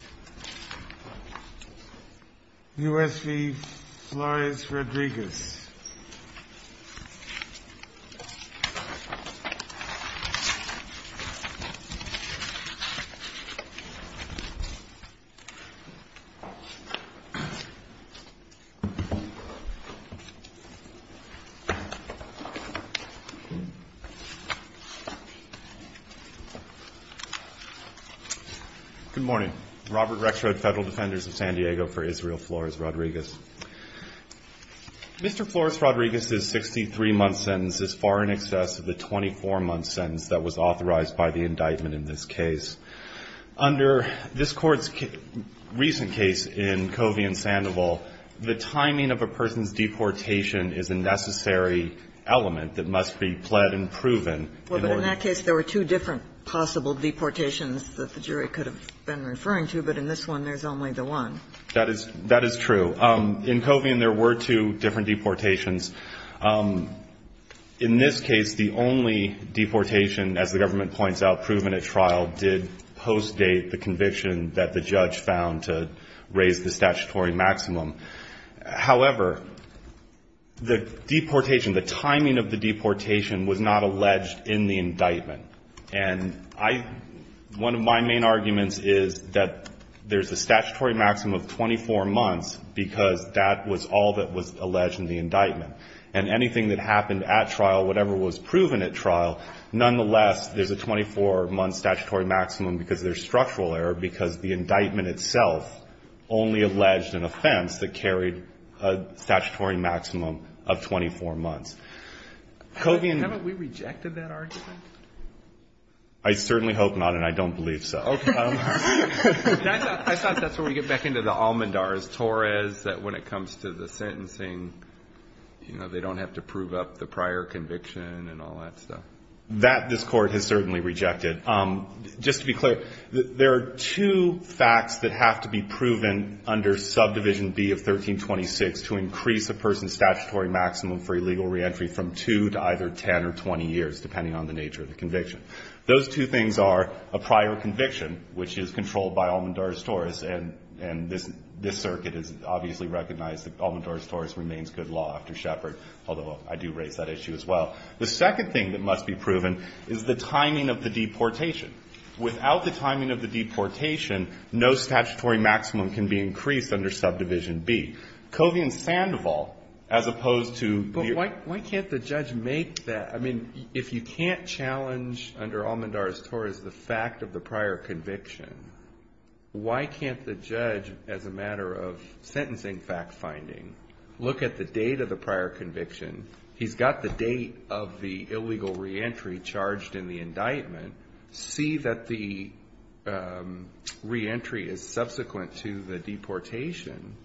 Good morning, ladies and gentlemen, and welcome to the United States v. Flores-Rodriguez. I'm Robert Rexrod, Federal Defenders of San Diego, for Israel Flores-Rodriguez. Mr. Flores-Rodriguez's 63-month sentence is far in excess of the 24-month sentence that was authorized by the indictment in this case. Under this Court's recent case in Covey v. Sandoval, the timing of a person's deportation is a necessary element that must be pled and proven in order to do so. In this case, the only deportation, as the government points out, proven at trial, did postdate the conviction that the judge found to raise the statutory maximum. However, the deportation, the timing of the deportation, was not alleged in the indictment. And I one of my main arguments is that the deportation, the timing of the deportation there's a statutory maximum of 24 months because that was all that was alleged in the indictment, and anything that happened at trial, whatever was proven at trial, nonetheless, there's a 24-month statutory maximum because there's structural error because the indictment itself only alleged an offense that carried a statutory maximum of 24 months. Covey and — Haven't we rejected that argument? I certainly hope not, and I don't believe so. Okay. I thought that's where we get back into the almondars, Torres, that when it comes to the sentencing, you know, they don't have to prove up the prior conviction and all that stuff. That this Court has certainly rejected. Just to be clear, there are two facts that have to be proven under Subdivision B of 1326 to increase a person's statutory maximum for illegal reentry from two to either 10 or 20 years, depending on the nature of the conviction. Those two things are a prior conviction, which is controlled by almondars, Torres, and this circuit has obviously recognized that almondars, Torres remains good law after Shepard, although I do raise that issue as well. The second thing that must be proven is the timing of the deportation. Without the timing of the deportation, no statutory maximum can be increased under Subdivision B. Covey and Sandoval, as opposed to the other. But why can't the judge make that? I mean, if you can't challenge under almondars, Torres, the fact of the prior conviction, why can't the judge, as a matter of sentencing fact-finding, look at the date of the prior conviction. He's got the date of the illegal reentry charged in the indictment. See that the reentry is subsequent to the deportation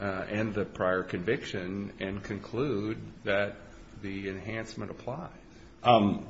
and the prior conviction and conclude that the enhancement applies.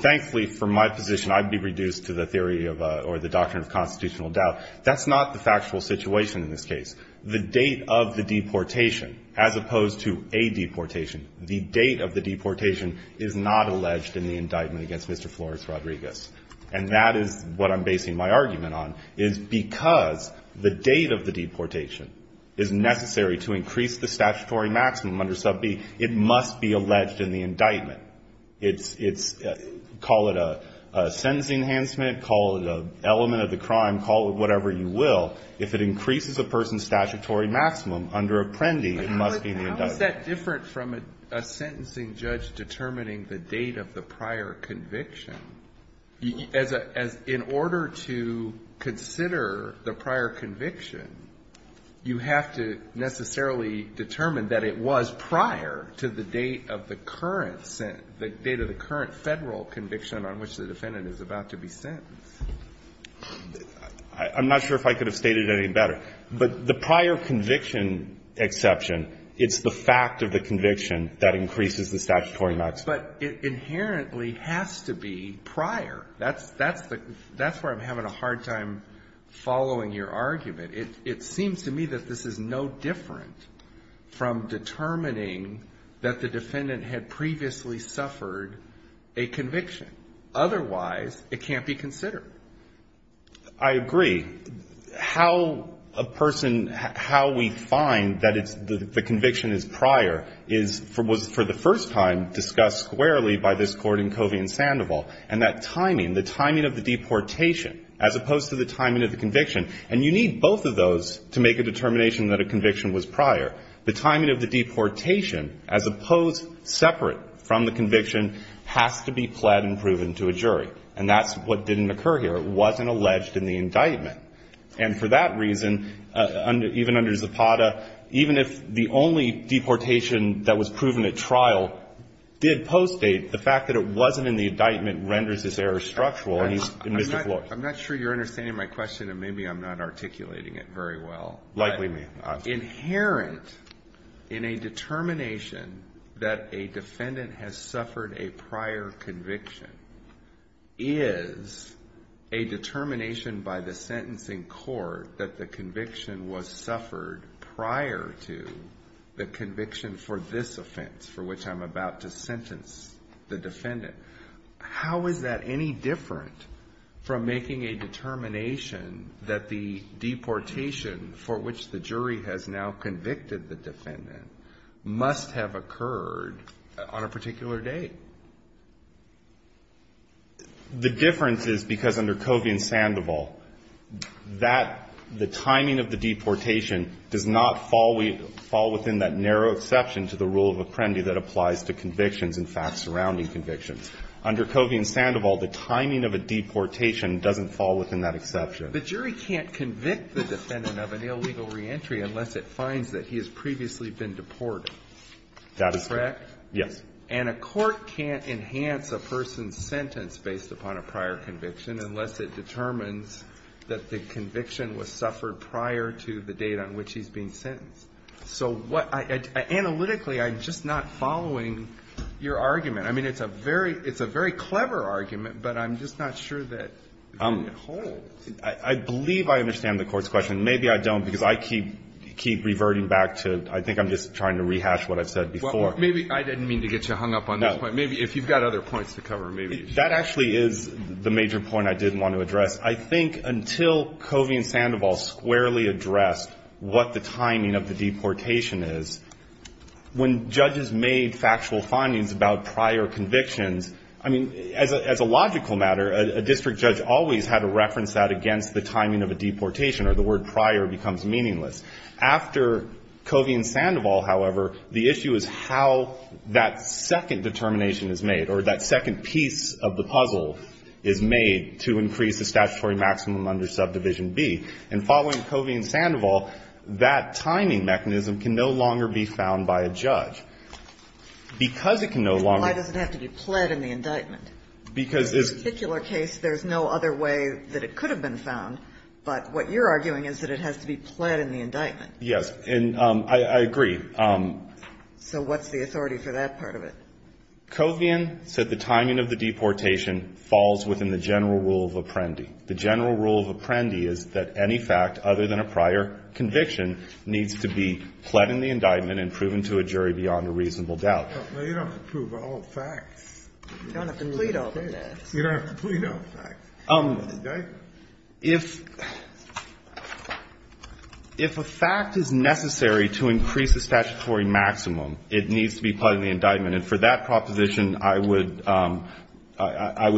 Thankfully, from my position, I'd be reduced to the theory or the doctrine of constitutional doubt. That's not the factual situation in this case. The date of the deportation, as opposed to a deportation, the date of the deportation is not alleged in the indictment against Mr. Flores Rodriguez. And that is what I'm basing my argument on, is because the date of the deportation is necessary to increase the statutory maximum under Subdivision B, it must be alleged in the indictment. It's call it a sentencing enhancement, call it an element of the crime, call it whatever you will. If it increases a person's statutory maximum under Apprendi, it must be in the indictment. Alito, how is that different from a sentencing judge determining the date of the prior conviction, as in order to consider the prior conviction, you have to necessarily determine that it was prior to the date of the current federal conviction on which the defendant is about to be sentenced? I'm not sure if I could have stated it any better. But the prior conviction exception, it's the fact of the conviction that increases the statutory maximum. But it inherently has to be prior. That's where I'm having a hard time following your argument. It seems to me that this is no different from determining that the defendant had previously suffered a conviction. Otherwise, it can't be considered. I agree. How a person, how we find that it's the conviction is prior is for the first time discussed squarely by this Court in Covey and Sandoval. And that timing, the timing of the deportation, as opposed to the timing of the conviction, and you need both of those to make a determination that a conviction was prior. The timing of the deportation, as opposed separate from the conviction, has to be pled and proven to a jury. And that's what didn't occur here. It wasn't alleged in the indictment. And for that reason, even under Zapata, even if the only deportation that was proven at trial did postdate, the fact that it wasn't in the indictment renders this error structural. I'm not sure you're understanding my question, and maybe I'm not articulating it very well. Likely me. Inherent in a determination that a defendant has suffered a prior conviction is a determination by the sentencing court that the conviction was suffered prior to the conviction for this offense for which I'm about to sentence the defendant. How is that any different from making a determination that the deportation for which the jury has now convicted the defendant must have occurred on a particular day? The difference is because under Covey and Sandoval, that the timing of the deportation does not fall within that narrow exception to the rule of apprendi that applies to convictions, in fact, surrounding convictions. Under Covey and Sandoval, the timing of a deportation doesn't fall within that exception. The jury can't convict the defendant of an illegal reentry unless it finds that he has previously been deported. That is correct. Yes. And a court can't enhance a person's sentence based upon a prior conviction unless it determines that the conviction was suffered prior to the date on which he's being sentenced. So what analytically, I'm just not following your argument. I mean, it's a very clever argument, but I'm just not sure that it holds. I believe I understand the Court's question. Maybe I don't, because I keep reverting back to I think I'm just trying to rehash what I've said before. Maybe I didn't mean to get you hung up on this point. Maybe if you've got other points to cover, maybe. That actually is the major point I did want to address. I think until Covey and Sandoval squarely addressed what the timing of the deportation is, when judges made factual findings about prior convictions, I mean, as a logical matter, a district judge always had to reference that against the timing of a deportation or the word prior becomes meaningless. After Covey and Sandoval, however, the issue is how that second determination is made or that second piece of the puzzle is made to increase the statutory maximum under Subdivision B. And following Covey and Sandoval, that timing mechanism can no longer be found by a judge. Because it can no longer be found by a judge. Why does it have to be pled in the indictment? Because this particular case, there's no other way that it could have been found, but what you're arguing is that it has to be pled in the indictment. Yes. And I agree. So what's the authority for that part of it? Covey and Sandoval said the timing of the deportation falls within the general rule of Apprendi. The general rule of Apprendi is that any fact other than a prior conviction needs to be pled in the indictment and proven to a jury beyond a reasonable doubt. Well, you don't have to prove all the facts. You don't have to plead all the facts. You don't have to plead all the facts in the indictment. If a fact is necessary to increase the statutory maximum, it needs to be pled in the indictment. And for that proposition, I would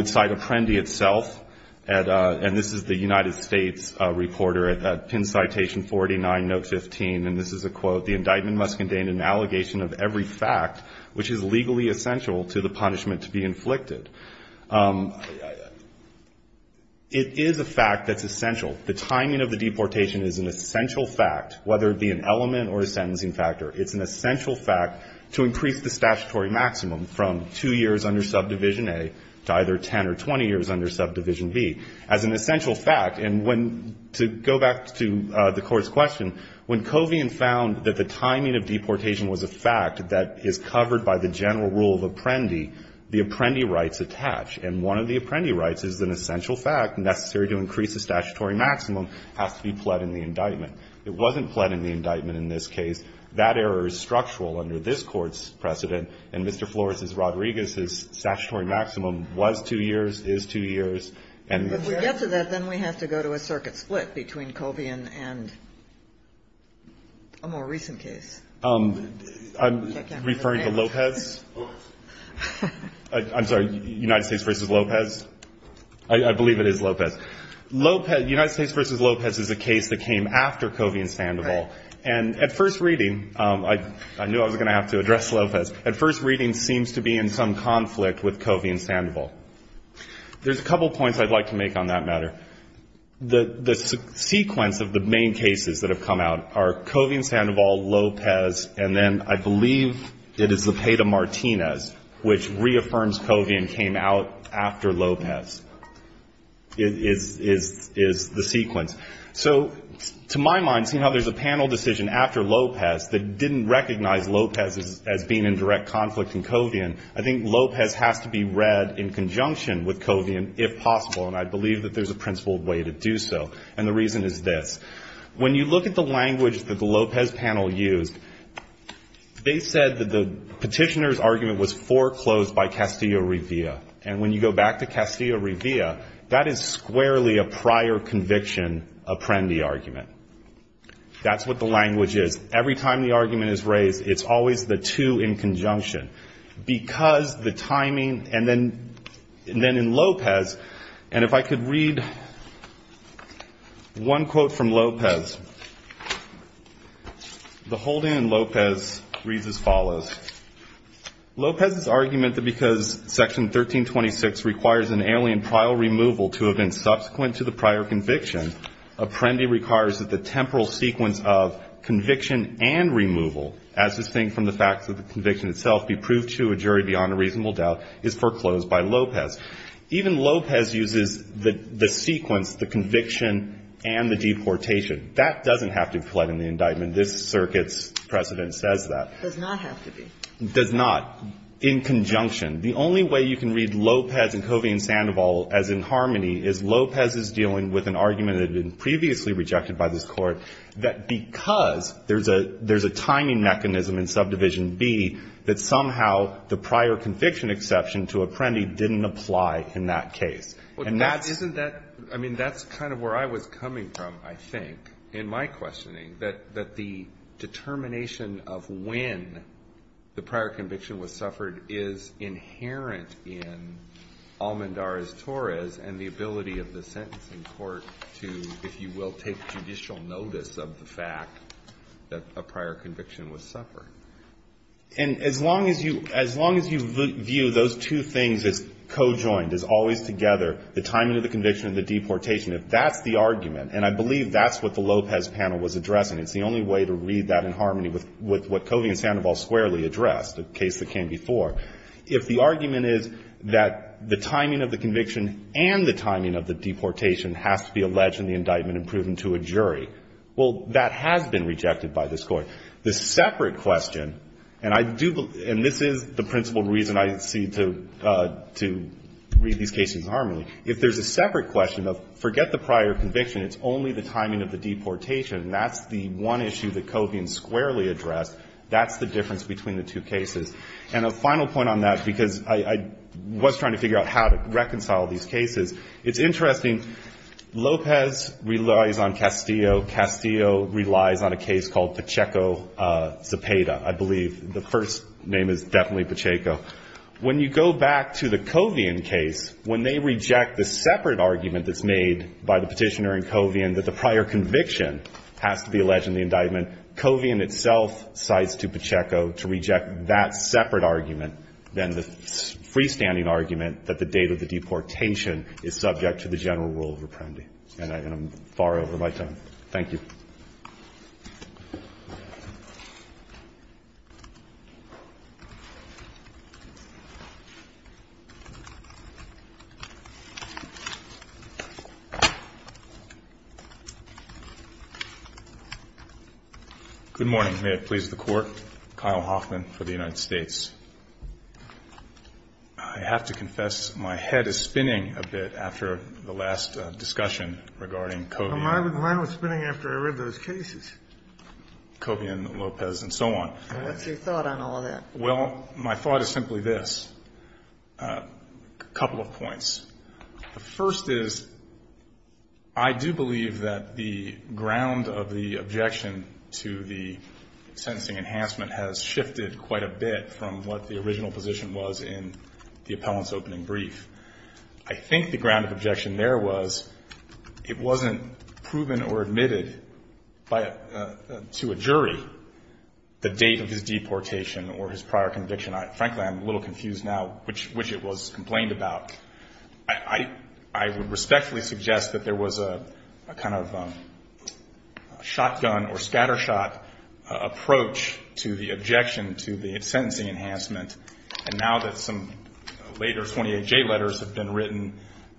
cite Apprendi itself. And this is the United States reporter at PIN Citation 49, Note 15. And this is a quote. The indictment must contain an allegation of every fact which is legally essential to the punishment to be inflicted. It is a fact that's essential. The timing of the deportation is an essential fact, whether it be an element or a sentencing factor. It's an essential fact to increase the statutory maximum from two years under Subdivision A to either 10 or 20 years under Subdivision B as an essential fact. And when to go back to the Court's question, when Covey and found that the timing of deportation was a fact that is covered by the general rule of Apprendi, the indictment must attach. And one of the Apprendi rights is an essential fact necessary to increase the statutory maximum has to be pled in the indictment. It wasn't pled in the indictment in this case. That error is structural under this Court's precedent. And Mr. Flores' Rodriguez's statutory maximum was two years, is two years, and the general rule of Apprendi. Kagan. But to get to that, then we have to go to a circuit split between Covey and a more recent case. I'm referring to Lopez. I'm sorry, United States v. Lopez? I believe it is Lopez. Lopez, United States v. Lopez is a case that came after Covey and Sandoval. And at first reading, I knew I was going to have to address Lopez. At first reading, seems to be in some conflict with Covey and Sandoval. There's a couple points I'd like to make on that matter. The sequence of the main cases that have come out are Covey and Sandoval, Lopez, and then I believe it is Zepeda-Martinez, which reaffirms Covey and came out after Lopez, is the sequence. So to my mind, seeing how there's a panel decision after Lopez that didn't recognize Lopez as being in direct conflict with Covey and Sandoval, I think Lopez has to be read in conjunction with Covey and Sandoval if possible. And I believe that there's a principled way to do so. And the reason is this. When you look at the language that the Lopez panel used, they said that the petitioner's argument was foreclosed by Castillo-Rivia. And when you go back to Castillo-Rivia, that is squarely a prior conviction Apprendi argument. That's what the language is. Every time the argument is raised, it's always the two in conjunction. Because the timing, and then in Lopez, and if I could read one quote from Lopez, the whole thing in Lopez reads as follows. Lopez's argument that because Section 1326 requires an alien trial removal to have been subsequent to the prior conviction, Apprendi requires that the temporal sequence of conviction and removal, as distinct from the fact that the conviction itself be proved to a jury beyond a reasonable doubt, is foreclosed by Lopez. Even Lopez uses the sequence, the conviction and the deportation. That doesn't have to be collided in the indictment. This circuit's precedent says that. It does not have to be. It does not. In conjunction. The only way you can read Lopez and Covey and Sandoval as in harmony is Lopez is dealing with an argument that had been previously rejected by this Court, that because there's a timing mechanism in Subdivision B, that somehow the prior conviction exception to Apprendi didn't apply in that case. And that's. Alito. Isn't that, I mean, that's kind of where I was coming from, I think, in my questioning, that the determination of when the prior conviction was suffered is inherent in Almendarez Torres and the ability of the sentencing court to, if you will, take judicial notice of the fact that a prior conviction was suffered. And as long as you, as long as you view those two things as co-joined, as always together, the timing of the conviction and the deportation, if that's the argument, and I believe that's what the Lopez panel was addressing, it's the only way to read that in harmony with what Covey and Sandoval squarely addressed, a case that came before, if the argument is that the timing of the conviction and the timing of the deportation has to be alleged in the indictment and proven to a jury, well, that has been rejected by this Court. The separate question, and I do believe, and this is the principled reason I see to read these cases in harmony, if there's a separate question of forget the prior conviction, it's only the timing of the deportation, and that's the one issue that I see. The final point on that, because I was trying to figure out how to reconcile these cases, it's interesting. Lopez relies on Castillo. Castillo relies on a case called Pacheco-Zapata, I believe. The first name is definitely Pacheco. When you go back to the Covian case, when they reject the separate argument that's made by the petitioner in Covian that the prior conviction has to be alleged in the freestanding argument that the date of the deportation is subject to the general rule of apprendi. And I'm far over my time. Thank you. Good morning. May it please the Court. Kyle Hoffman for the United States. I have to confess, my head is spinning a bit after the last discussion regarding Covian. Well, mine was spinning after I read those cases. Covian, Lopez, and so on. What's your thought on all of that? Well, my thought is simply this. A couple of points. The first is, I do believe that the ground of the objection to the sentencing enhancement has shifted quite a bit from what the original position was in the appellant's opening brief. I think the ground of objection there was, it wasn't proven or admitted to a jury the date of his deportation or his prior conviction. Frankly, I'm a little confused now which it was complained about. I would respectfully suggest that there was a kind of shotgun or scattershot approach to the objection to the sentencing enhancement. And now that some later 28J letters have been written,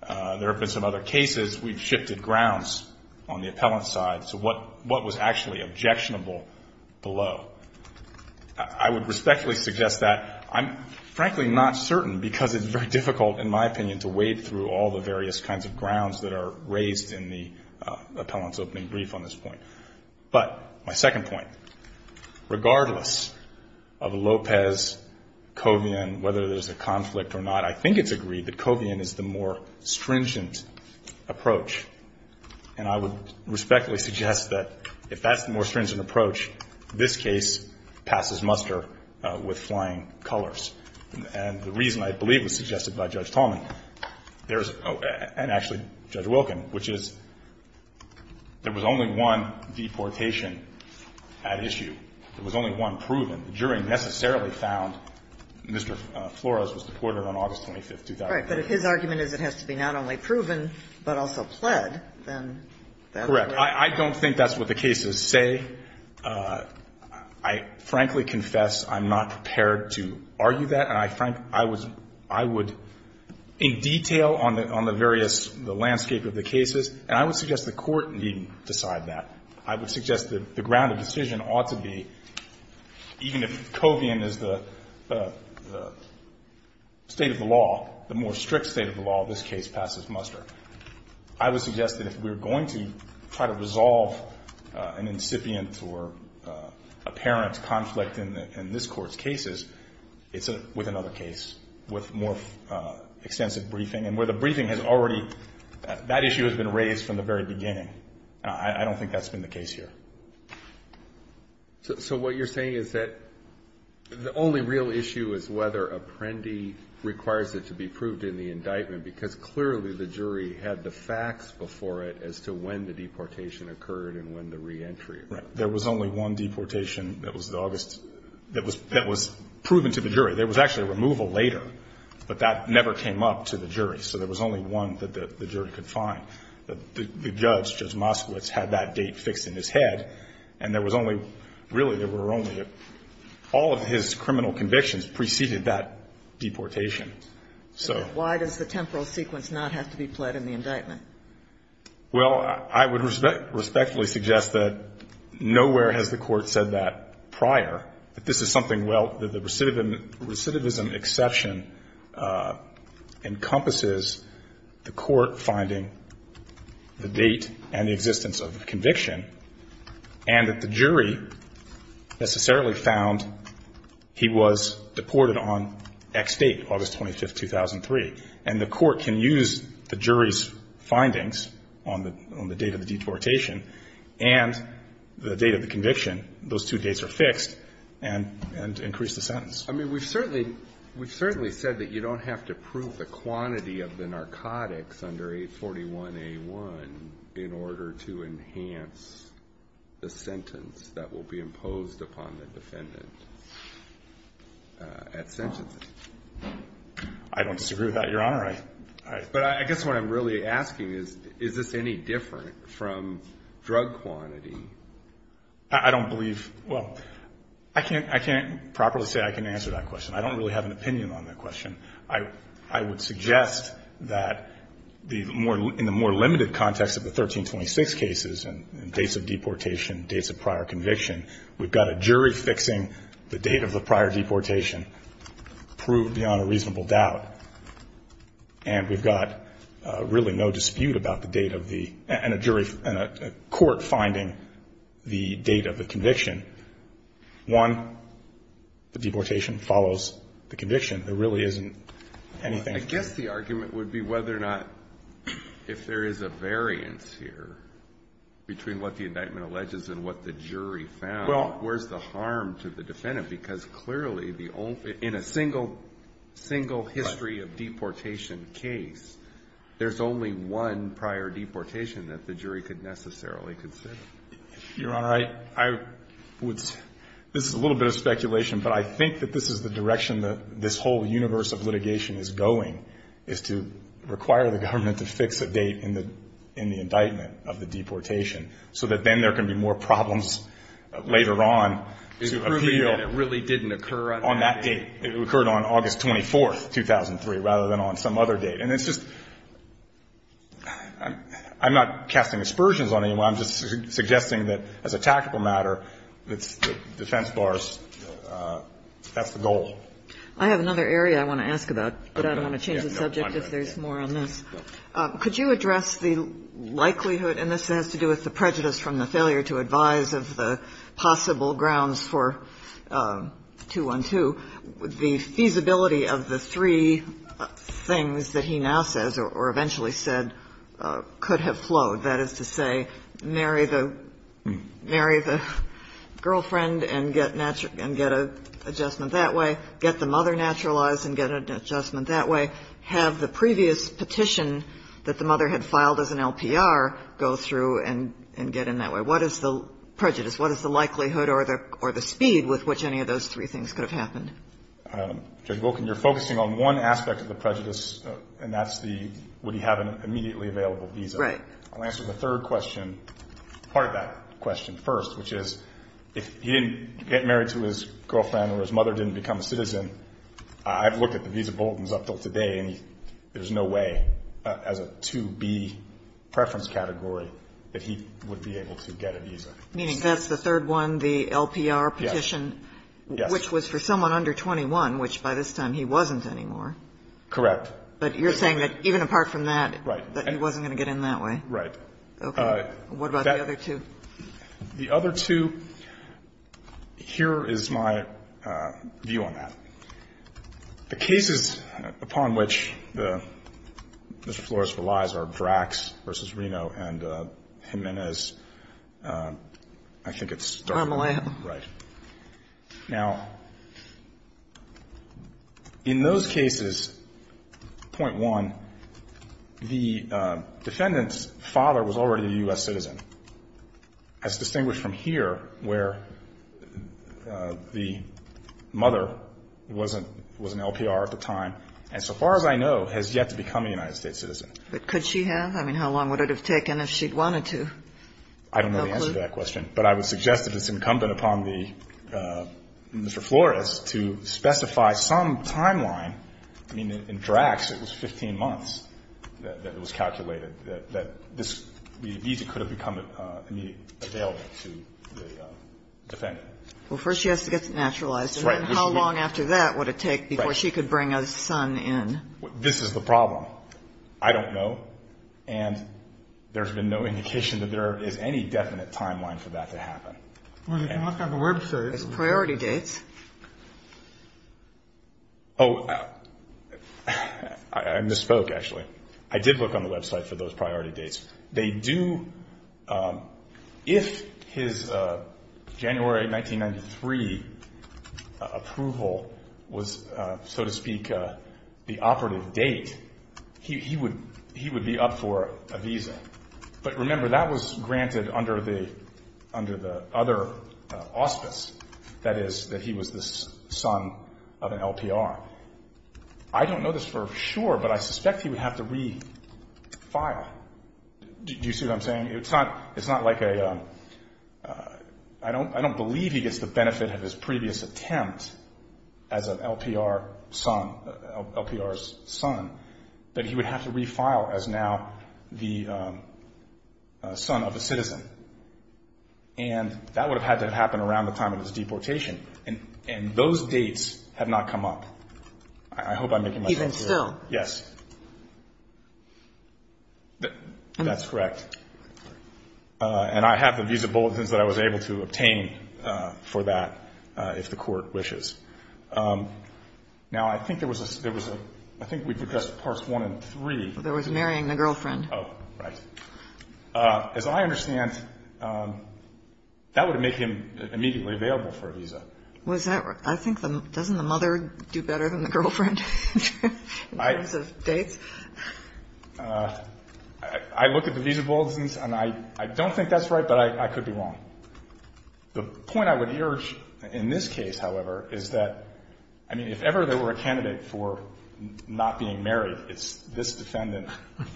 there have been some other cases, we've shifted grounds on the appellant's side to what was actually objectionable below. I would respectfully suggest that. I'm frankly not certain because it's very difficult, in my opinion, to wade through all the various kinds of grounds that are raised in the appellant's opening brief on this point. But my second point, regardless of Lopez, Covian, whether there's a conflict or not, I think it's agreed that Covian is the more stringent approach. And I would respectfully suggest that if that's the more stringent approach, this case passes muster with flying colors. And the reason I believe was suggested by Judge Tallman, and actually Judge Wilkin, which is there was only one deportation at issue. There was only one proven. The jury necessarily found Mr. Flores was deported on August 25th, 2008. Right. But if his argument is it has to be not only proven but also pled, then that's right. Correct. I don't think that's what the cases say. I frankly confess I'm not prepared to argue that. And I would, in detail on the various, the landscape of the cases, and I would suggest the Court needn't decide that. I would suggest that the ground of decision ought to be, even if Covian is the state of the law, the more strict state of the law, this case passes muster. I would suggest that if we're going to try to resolve an incipient or apparent conflict in this Court's cases, it's with another case, with more extensive briefing. And where the briefing has already, that issue has been raised from the very beginning. I don't think that's been the case here. So what you're saying is that the only real issue is whether Apprendi requires it to be proved in the indictment, because clearly the jury had the facts before it as to when the deportation occurred and when the reentry occurred. Right. There was only one deportation that was the August, that was proven to the jury. There was actually a removal later, but that never came up to the jury. So there was only one that the jury could find. The judge, Judge Moskowitz, had that date fixed in his head, and there was only, really there were only, all of his criminal convictions preceded that deportation. So why does the temporal sequence not have to be pled in the indictment? Well, I would respectfully suggest that nowhere has the Court said that prior, that this is something, well, the recidivism exception encompasses the Court finding the date and the existence of the conviction, and that the jury necessarily found he was deported on X date, August 25th, 2003. And the Court can use the jury's findings on the date of the deportation and the date of the conviction, those two dates are fixed, and increase the sentence. I mean, we've certainly said that you don't have to prove the quantity of the narcotics under 841A1 in order to enhance the sentence that will be imposed upon the defendant at sentencing. I don't disagree with that, Your Honor. But I guess what I'm really asking is, is this any different from drug quantity? I don't believe, well, I can't, I can't properly say I can answer that question. I don't really have an opinion on that question. I would suggest that the more, in the more limited context of the 1326 cases and dates of deportation, dates of prior conviction, we've got a jury fixing the date of the prior deportation proved beyond a reasonable doubt, and we've got really no dispute about the date of the, and a jury, and a court finding the date of the conviction. One, the deportation follows the conviction. There really isn't anything. I guess the argument would be whether or not, if there is a variance here between what the indictment alleges and what the jury found, where's the harm to the defendant? Because clearly, the only, in a single, single history of deportation case, there's only one prior deportation that the jury could necessarily consider. Your Honor, I would, this is a little bit of speculation, but I think that this is the direction that this whole universe of litigation is going, is to require the government to fix a date in the indictment of the deportation, so that then there can be more problems later on to appeal. It's proving that it really didn't occur on that date. On that date. It occurred on August 24th, 2003, rather than on some other date. And it's just, I'm not casting aspersions on anyone. I'm just suggesting that, as a tactical matter, the defense bar is, that's the goal. I have another area I want to ask about, but I don't want to change the subject if there's more on this. Could you address the likelihood, and this has to do with the prejudice from the failure to advise of the possible grounds for 212, the feasibility of the three things that he now says, or eventually said, could have flowed? That is to say, marry the girlfriend and get a adjustment that way, get the mother naturalized and get an adjustment that way, have the previous petition that the mother had filed as an LPR go through and get in that way. What is the prejudice? What is the likelihood or the speed with which any of those three things could have happened? Judge Volkin, you're focusing on one aspect of the prejudice, and that's the would he have an immediately available visa. Right. I'll answer the third question, part of that question first, which is, if he didn't get married to his girlfriend or his mother didn't become a citizen, I've looked at the visa bulletins up until today, and there's no way as a 2B preference category that he would be able to get a visa. Meaning that's the third one, the LPR petition. Yes. Which was for someone under 21, which by this time he wasn't anymore. Correct. But you're saying that even apart from that, that he wasn't going to get in that way? Right. Okay. What about the other two? The other two, here is my view on that. The cases upon which Mr. Flores relies are Drax v. Reno and Jimenez. I think it's Darmeland. Right. Now, in those cases, point one, the defendant's father was already a U.S. citizen. As distinguished from here, where the mother was an LPR at the time, and so far as I know, has yet to become a United States citizen. But could she have? I mean, how long would it have taken if she'd wanted to? I don't know the answer to that question. No clue? But I would suggest that it's incumbent upon the Mr. Flores to specify some timeline. I mean, in Drax, it was 15 months that it was calculated that the visa could have become available to the defendant. Well, first she has to get it naturalized. Right. And how long after that would it take before she could bring a son in? This is the problem. I don't know. And there's been no indication that there is any definite timeline for that to happen. Well, you can look on the website. There's priority dates. Oh, I misspoke, actually. I did look on the website for those priority dates. They do, if his January 1993 approval was, so to speak, the operative date, he would be up for a visa. But remember, that was granted under the other auspice. That is, that he was the son of an LPR. I don't know this for sure, but I suspect he would have to refile. Do you see what I'm saying? It's not like a ‑‑ I don't believe he gets the benefit of his previous attempt as an LPR son, LPR's son, that he would have to refile as now the son of a citizen. And that would have had to have happened around the time of his deportation. And those dates have not come up. I hope I'm making myself clear. Even still. Yes. That's correct. And I have the visa bulletins that I was able to obtain for that, if the Court wishes. Now, I think there was a ‑‑ I think we've addressed Parts 1 and 3. There was marrying the girlfriend. Oh, right. As I understand, that would have made him immediately available for a visa. Was that ‑‑ I think the ‑‑ doesn't the mother do better than the girlfriend in terms of dates? I look at the visa bulletins, and I don't think that's right, but I could be wrong. The point I would urge in this case, however, is that, I mean, if ever there were a candidate for not being married, it's this defendant,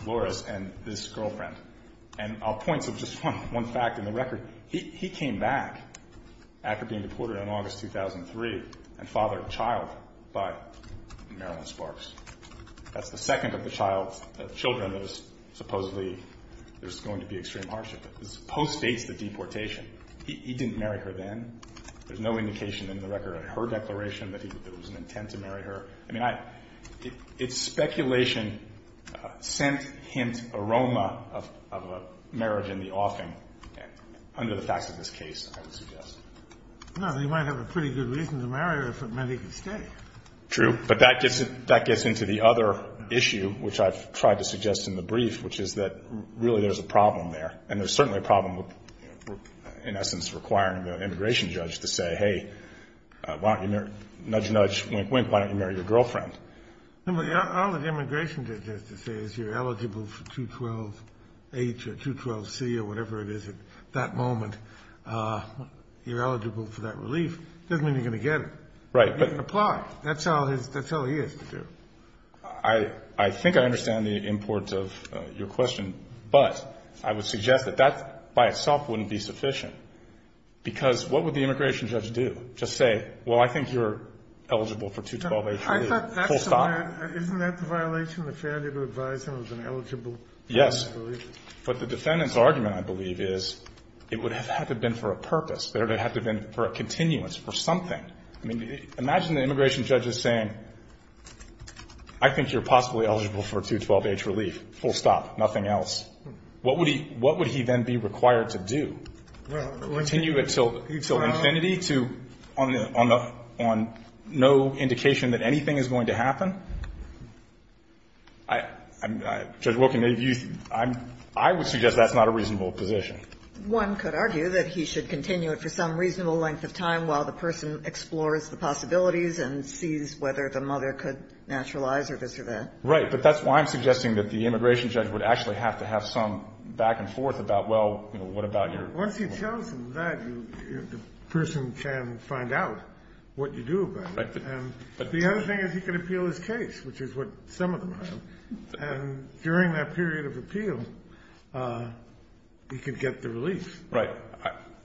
Flores, and this girlfriend. And I'll point to just one fact in the record. He came back after being deported on August 2003 and fathered a child by Marilyn Sparks. That's the second of the child's children that is supposedly going to be in extreme hardship. This postdates the deportation. He didn't marry her then. There's no indication in the record in her declaration that there was an intent to marry her. I mean, it's speculation, scent, hint, aroma of a marriage in the offing under the facts of this case, I would suggest. Well, he might have a pretty good reason to marry her if it meant he could stay. True, but that gets into the other issue, which I've tried to suggest in the brief, which is that really there's a problem there. And there's certainly a problem, in essence, requiring the immigration judge to say, hey, nudge, nudge, wink, wink, why don't you marry your girlfriend? All the immigration judge has to say is you're eligible for 212-H or 212-C or whatever it is at that moment. You're eligible for that relief. It doesn't mean you're going to get it. Right. You can apply. That's all he has to do. I think I understand the importance of your question, but I would suggest that that by itself wouldn't be sufficient. Because what would the immigration judge do? Just say, well, I think you're eligible for 212-H or 212-C, full stop? Isn't that the violation, the failure to advise him of an eligible? Yes. But the defendant's argument, I believe, is it would have had to have been for a purpose. It would have had to have been for a continuance, for something. I mean, imagine the immigration judge is saying, I think you're possibly eligible for 212-H relief. Full stop. Nothing else. What would he then be required to do? Continue it until infinity to, on no indication that anything is going to happen? Judge Wilken, I would suggest that's not a reasonable position. One could argue that he should continue it for some reasonable length of time while the person explores the possibilities and sees whether the mother could naturalize or this or that. Right. But that's why I'm suggesting that the immigration judge would actually have to have some back and forth about, well, what about your ---- Once he tells them that, the person can find out what you do about it. Right. But the other thing is he can appeal his case, which is what some of them have. And during that period of appeal, he could get the relief. Right.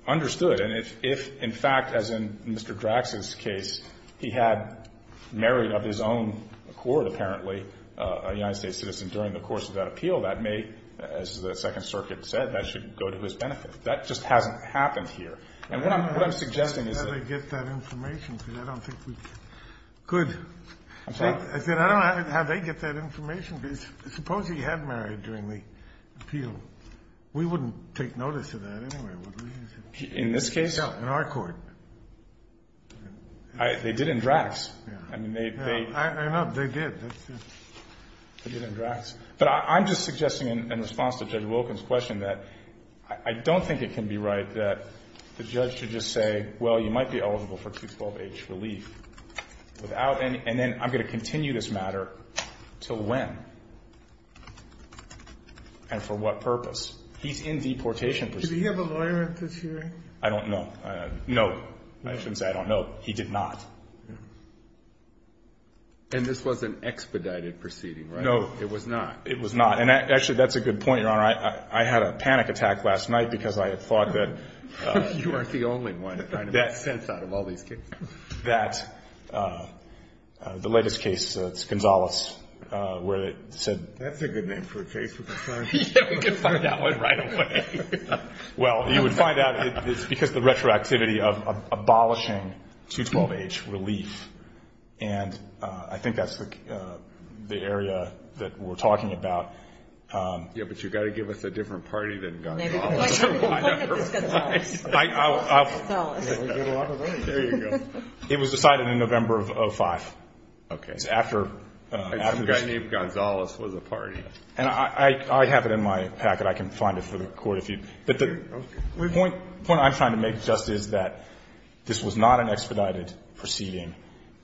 Understood. And if, in fact, as in Mr. Drax's case, he had married of his own accord, apparently, a United States citizen during the course of that appeal, that may, as the Second Circuit said, that should go to his benefit. That just hasn't happened here. And what I'm suggesting is that ---- I don't know how they get that information, because I don't think we could. I'm sorry? I said I don't know how they get that information. Suppose he had married during the appeal. We wouldn't take notice of that anyway, would we? In this case? No, in our court. They did in Drax. I mean, they ---- I know. They did. They did in Drax. But I'm just suggesting in response to Judge Wilkins' question that I don't think it can be right that the judge should just say, well, you might be eligible for 212H relief without any ---- and then I'm going to continue this matter until when and for what purpose. He's in deportation proceedings. Did he have a lawyer at this hearing? I don't know. No. I shouldn't say I don't know. He did not. And this was an expedited proceeding, right? It was not. It was not. And actually, that's a good point, Your Honor. I had a panic attack last night because I had thought that ---- You aren't the only one trying to make sense out of all these cases. That the latest case, it's Gonzales, where it said ---- That's a good name for a case. We can find it. Yeah, we can find that one right away. Well, you would find out it's because the retroactivity of abolishing 212H relief. And I think that's the area that we're talking about. Yeah, but you've got to give us a different party than Gonzales. Maybe we can point at this Gonzales. There you go. It was decided in November of 2005. Okay. It's after ---- A guy named Gonzales was a party. And I have it in my packet. I can find it for the Court if you'd ---- Okay. The point I'm trying to make just is that this was not an expedited proceeding,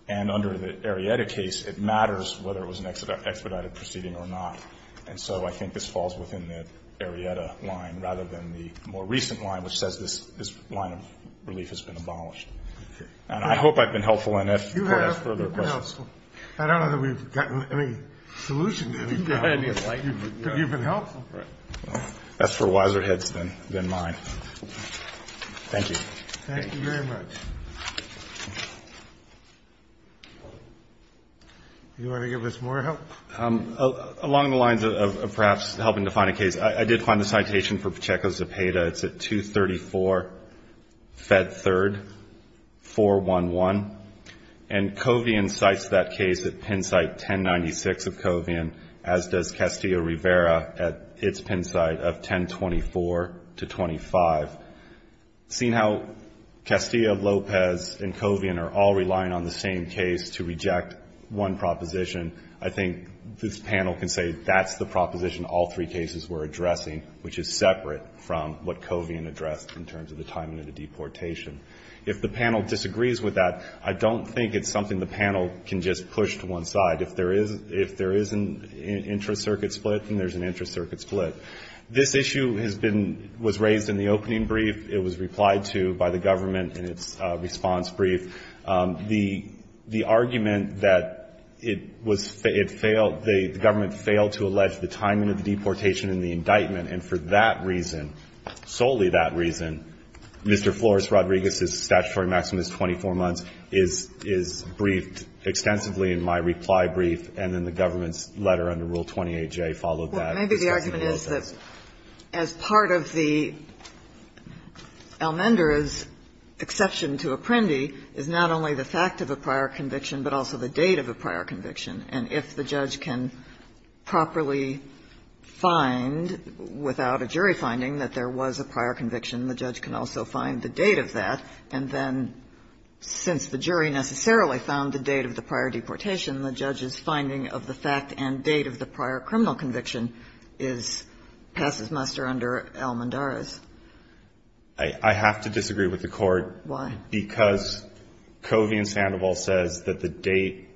and under the Arrieta case, it matters whether it was an expedited proceeding or not. And so I think this falls within the Arrieta line rather than the more recent line, which says this line of relief has been abolished. Okay. And I hope I've been helpful in that. You have been helpful. I don't know that we've gotten any solution to it. You've been helpful. That's for wiser heads than mine. Thank you. Thank you very much. You want to give us more help? Along the lines of perhaps helping to find a case, I did find the citation for Pacheco Zepeda. It's at 234 Fed 3rd, 411. And Covian cites that case at pin site 1096 of Covian, as does Castillo-Rivera at its pin site of 1024 to 25. Seeing how Castillo-Lopez and Covian are all relying on the same case to reject one proposition, I think this panel can say that's the proposition all three cases were addressing, which is separate from what Covian addressed in terms of the timing of the deportation. If the panel disagrees with that, I don't think it's something the panel can just push to one side. If there is an intra-circuit split, then there's an intra-circuit split. This issue has been raised in the opening brief. It was replied to by the government in its response brief. The argument that it failed, the government failed to allege the timing of the deportation and the indictment. And for that reason, solely that reason, Mr. Flores-Rodriguez's statutory maximum is 24 months, is briefed extensively in my reply brief, and then the government's letter under Rule 28J followed that. Kagan. Well, maybe the argument is that as part of the Almendra's exception to Apprendi is not only the fact of a prior conviction, but also the date of a prior conviction, and if the judge can properly find, without a jury finding, that there was a prior conviction, the judge can also find the date of that, and then since the jury necessarily found the date of the prior deportation, the judge's finding of the fact and date of the prior criminal conviction is passes muster under Almendra's. I have to disagree with the Court. Why? Because Covey and Sandoval says that the date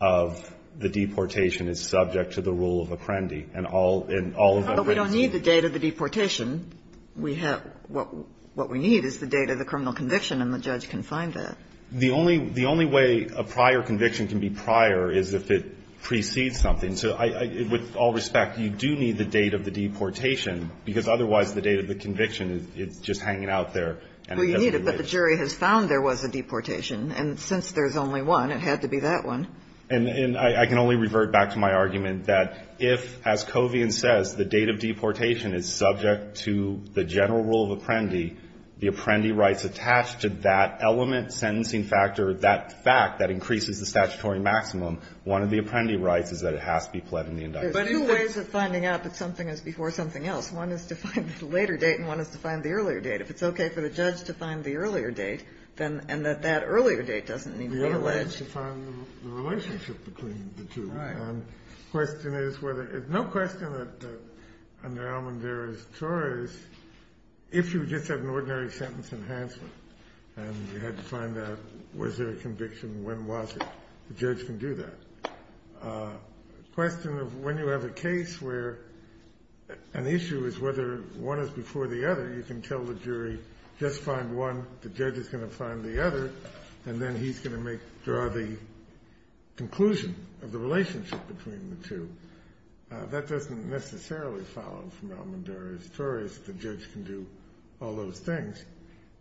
of the deportation is subject to the rule of Apprendi, and all of that is true. But we don't need the date of the deportation. What we need is the date of the criminal conviction, and the judge can find that. The only way a prior conviction can be prior is if it precedes something. So with all respect, you do need the date of the deportation, because otherwise the date of the conviction is just hanging out there. And it has to be later. Well, you need it, but the jury has found there was a deportation, and since there's only one, it had to be that one. And I can only revert back to my argument that if, as Covey and says, the date of deportation is subject to the general rule of Apprendi, the Apprendi rights attached to that element, sentencing factor, that fact that increases the statutory maximum, one of the Apprendi rights is that it has to be pled in the indictment. There's two ways of finding out that something is before something else. One is to find the later date, and one is to find the earlier date. If it's okay for the judge to find the earlier date, and that that earlier date doesn't need to be alleged. The other is to find the relationship between the two. Right. And the question is whether there's no question that under Almondera's tort is if you just have an ordinary sentence enhancement, and you had to find out was there a conviction, when was it, the judge can do that. The question of when you have a case where an issue is whether one is before the other, you can tell the jury just find one, the judge is going to find the other, and then he's going to make, draw the conclusion of the relationship between the two. That doesn't necessarily follow from Almondera's tort is the judge can do all those things,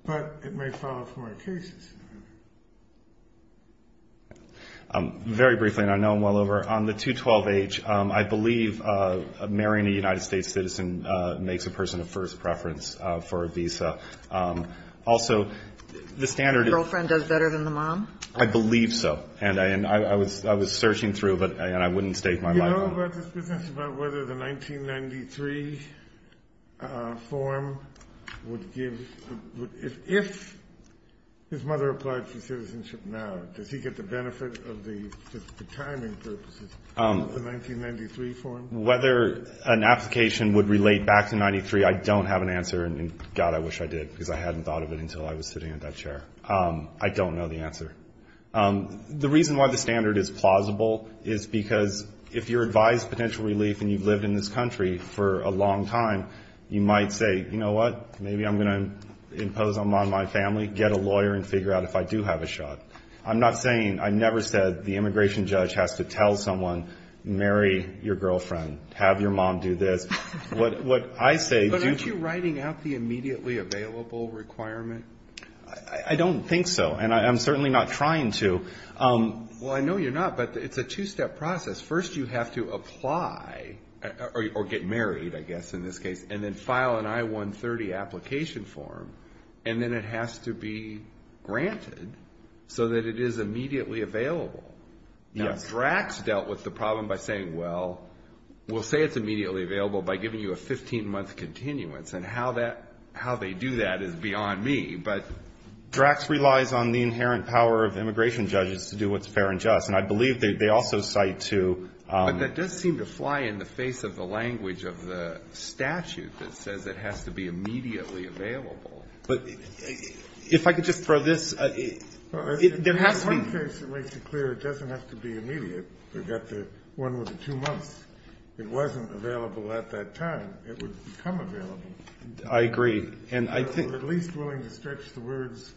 but it may follow from our cases. Very briefly, and I know I'm well over, on the 212H, I believe marrying a United States citizen is Almondera's preference for a visa. Also, the standard is. Your girlfriend does better than the mom? I believe so. And I was searching through, and I wouldn't stake my life on it. Do you know about this business about whether the 1993 form would give, if his mother applied for citizenship now, does he get the benefit of the timing purposes of the 1993 form? Whether an application would relate back to 1993, I don't have an answer, and God, I wish I did, because I hadn't thought of it until I was sitting in that chair. I don't know the answer. The reason why the standard is plausible is because if you're advised potential relief and you've lived in this country for a long time, you might say, you know what, maybe I'm going to impose on my family, get a lawyer and figure out if I do have a shot. I'm not saying, I never said the immigration judge has to tell someone, marry your girlfriend, have your mom do this. What I say. But aren't you writing out the immediately available requirement? I don't think so, and I'm certainly not trying to. Well, I know you're not, but it's a two-step process. First, you have to apply, or get married, I guess, in this case, and then file an I-130 application form, and then it has to be granted so that it is immediately available. Now, Drax dealt with the problem by saying, well, we'll say it's immediately available by giving you a 15-month continuance, and how they do that is beyond me, but. Drax relies on the inherent power of immigration judges to do what's fair and just, and I believe they also cite to. But that does seem to fly in the face of the language of the statute that says it has to be But if I could just throw this. There has to be. In one case, it makes it clear it doesn't have to be immediate. We've got the one with the two months. It wasn't available at that time. It would become available. I agree. And I think. At least willing to stretch the words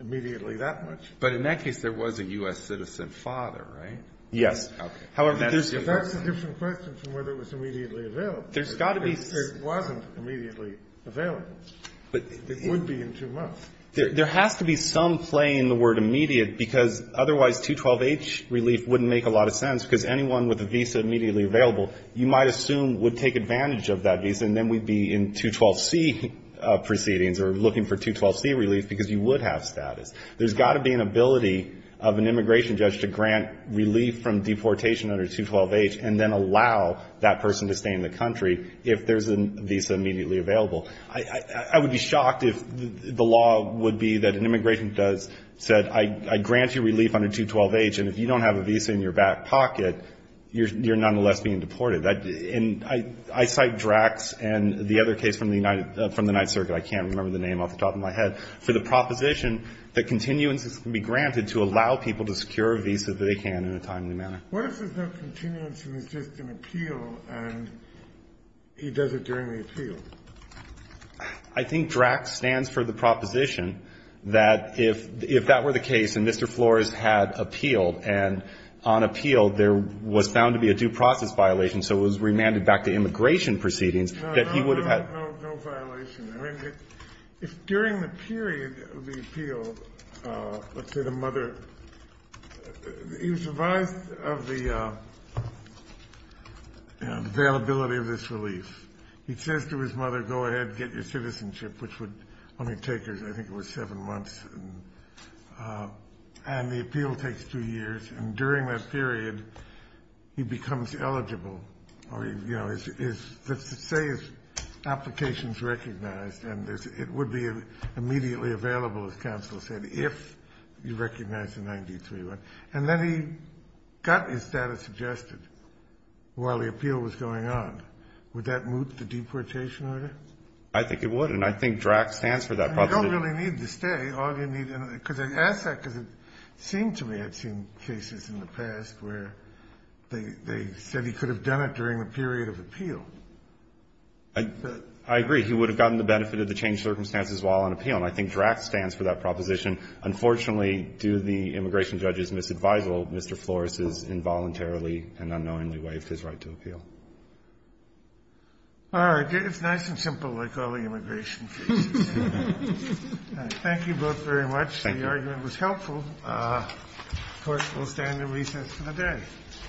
immediately that much. But in that case, there was a U.S. citizen father, right? Yes. Okay. However, that's a different question from whether it was immediately available. There's got to be. It wasn't immediately available. It would be in two months. There has to be some play in the word immediate, because otherwise 212H relief wouldn't make a lot of sense, because anyone with a visa immediately available, you might assume would take advantage of that visa, and then we'd be in 212C proceedings or looking for 212C relief, because you would have status. There's got to be an ability of an immigration judge to grant relief from deportation under 212H and then allow that person to stay in the country if there's a visa immediately available. I would be shocked if the law would be that an immigration judge said, I grant you relief under 212H, and if you don't have a visa in your back pocket, you're nonetheless being deported. And I cite Drax and the other case from the United Circuit, I can't remember the name off the top of my head, for the proposition that continuances can be granted to allow people to secure a visa if they can in a timely manner. What if there's no continuance and it's just an appeal, and he does it during the appeal? I think Drax stands for the proposition that if that were the case and Mr. Flores had appealed, and on appeal there was found to be a due process violation, so it was remanded back to immigration proceedings, that he would have had. No, no, no, no violation. I mean, if during the period of the appeal, let's say the mother, he was advised of the availability of this relief. He says to his mother, go ahead, get your citizenship, which would only take, I think it was seven months, and the appeal takes two years. And during that period, he becomes eligible, or, you know, let's say his application is recognized, and it would be immediately available, as counsel said, if you recognize the 93-1. And then he got his status adjusted while the appeal was going on. Would that moot the deportation order? I think it would. And I think Drax stands for that proposition. And you don't really need to stay. All you need to do is ask that, because it seemed to me I'd seen cases in the past where they said he could have done it during the period of appeal. I agree. He would have gotten the benefit of the changed circumstances while on appeal. And I think Drax stands for that proposition. Unfortunately, due to the immigration judge's misadvisal, Mr. Flores has involuntarily and unknowingly waived his right to appeal. All right. It's nice and simple, like all the immigration cases. Thank you both very much. The argument was helpful. Of course, we'll stand and recess for the day.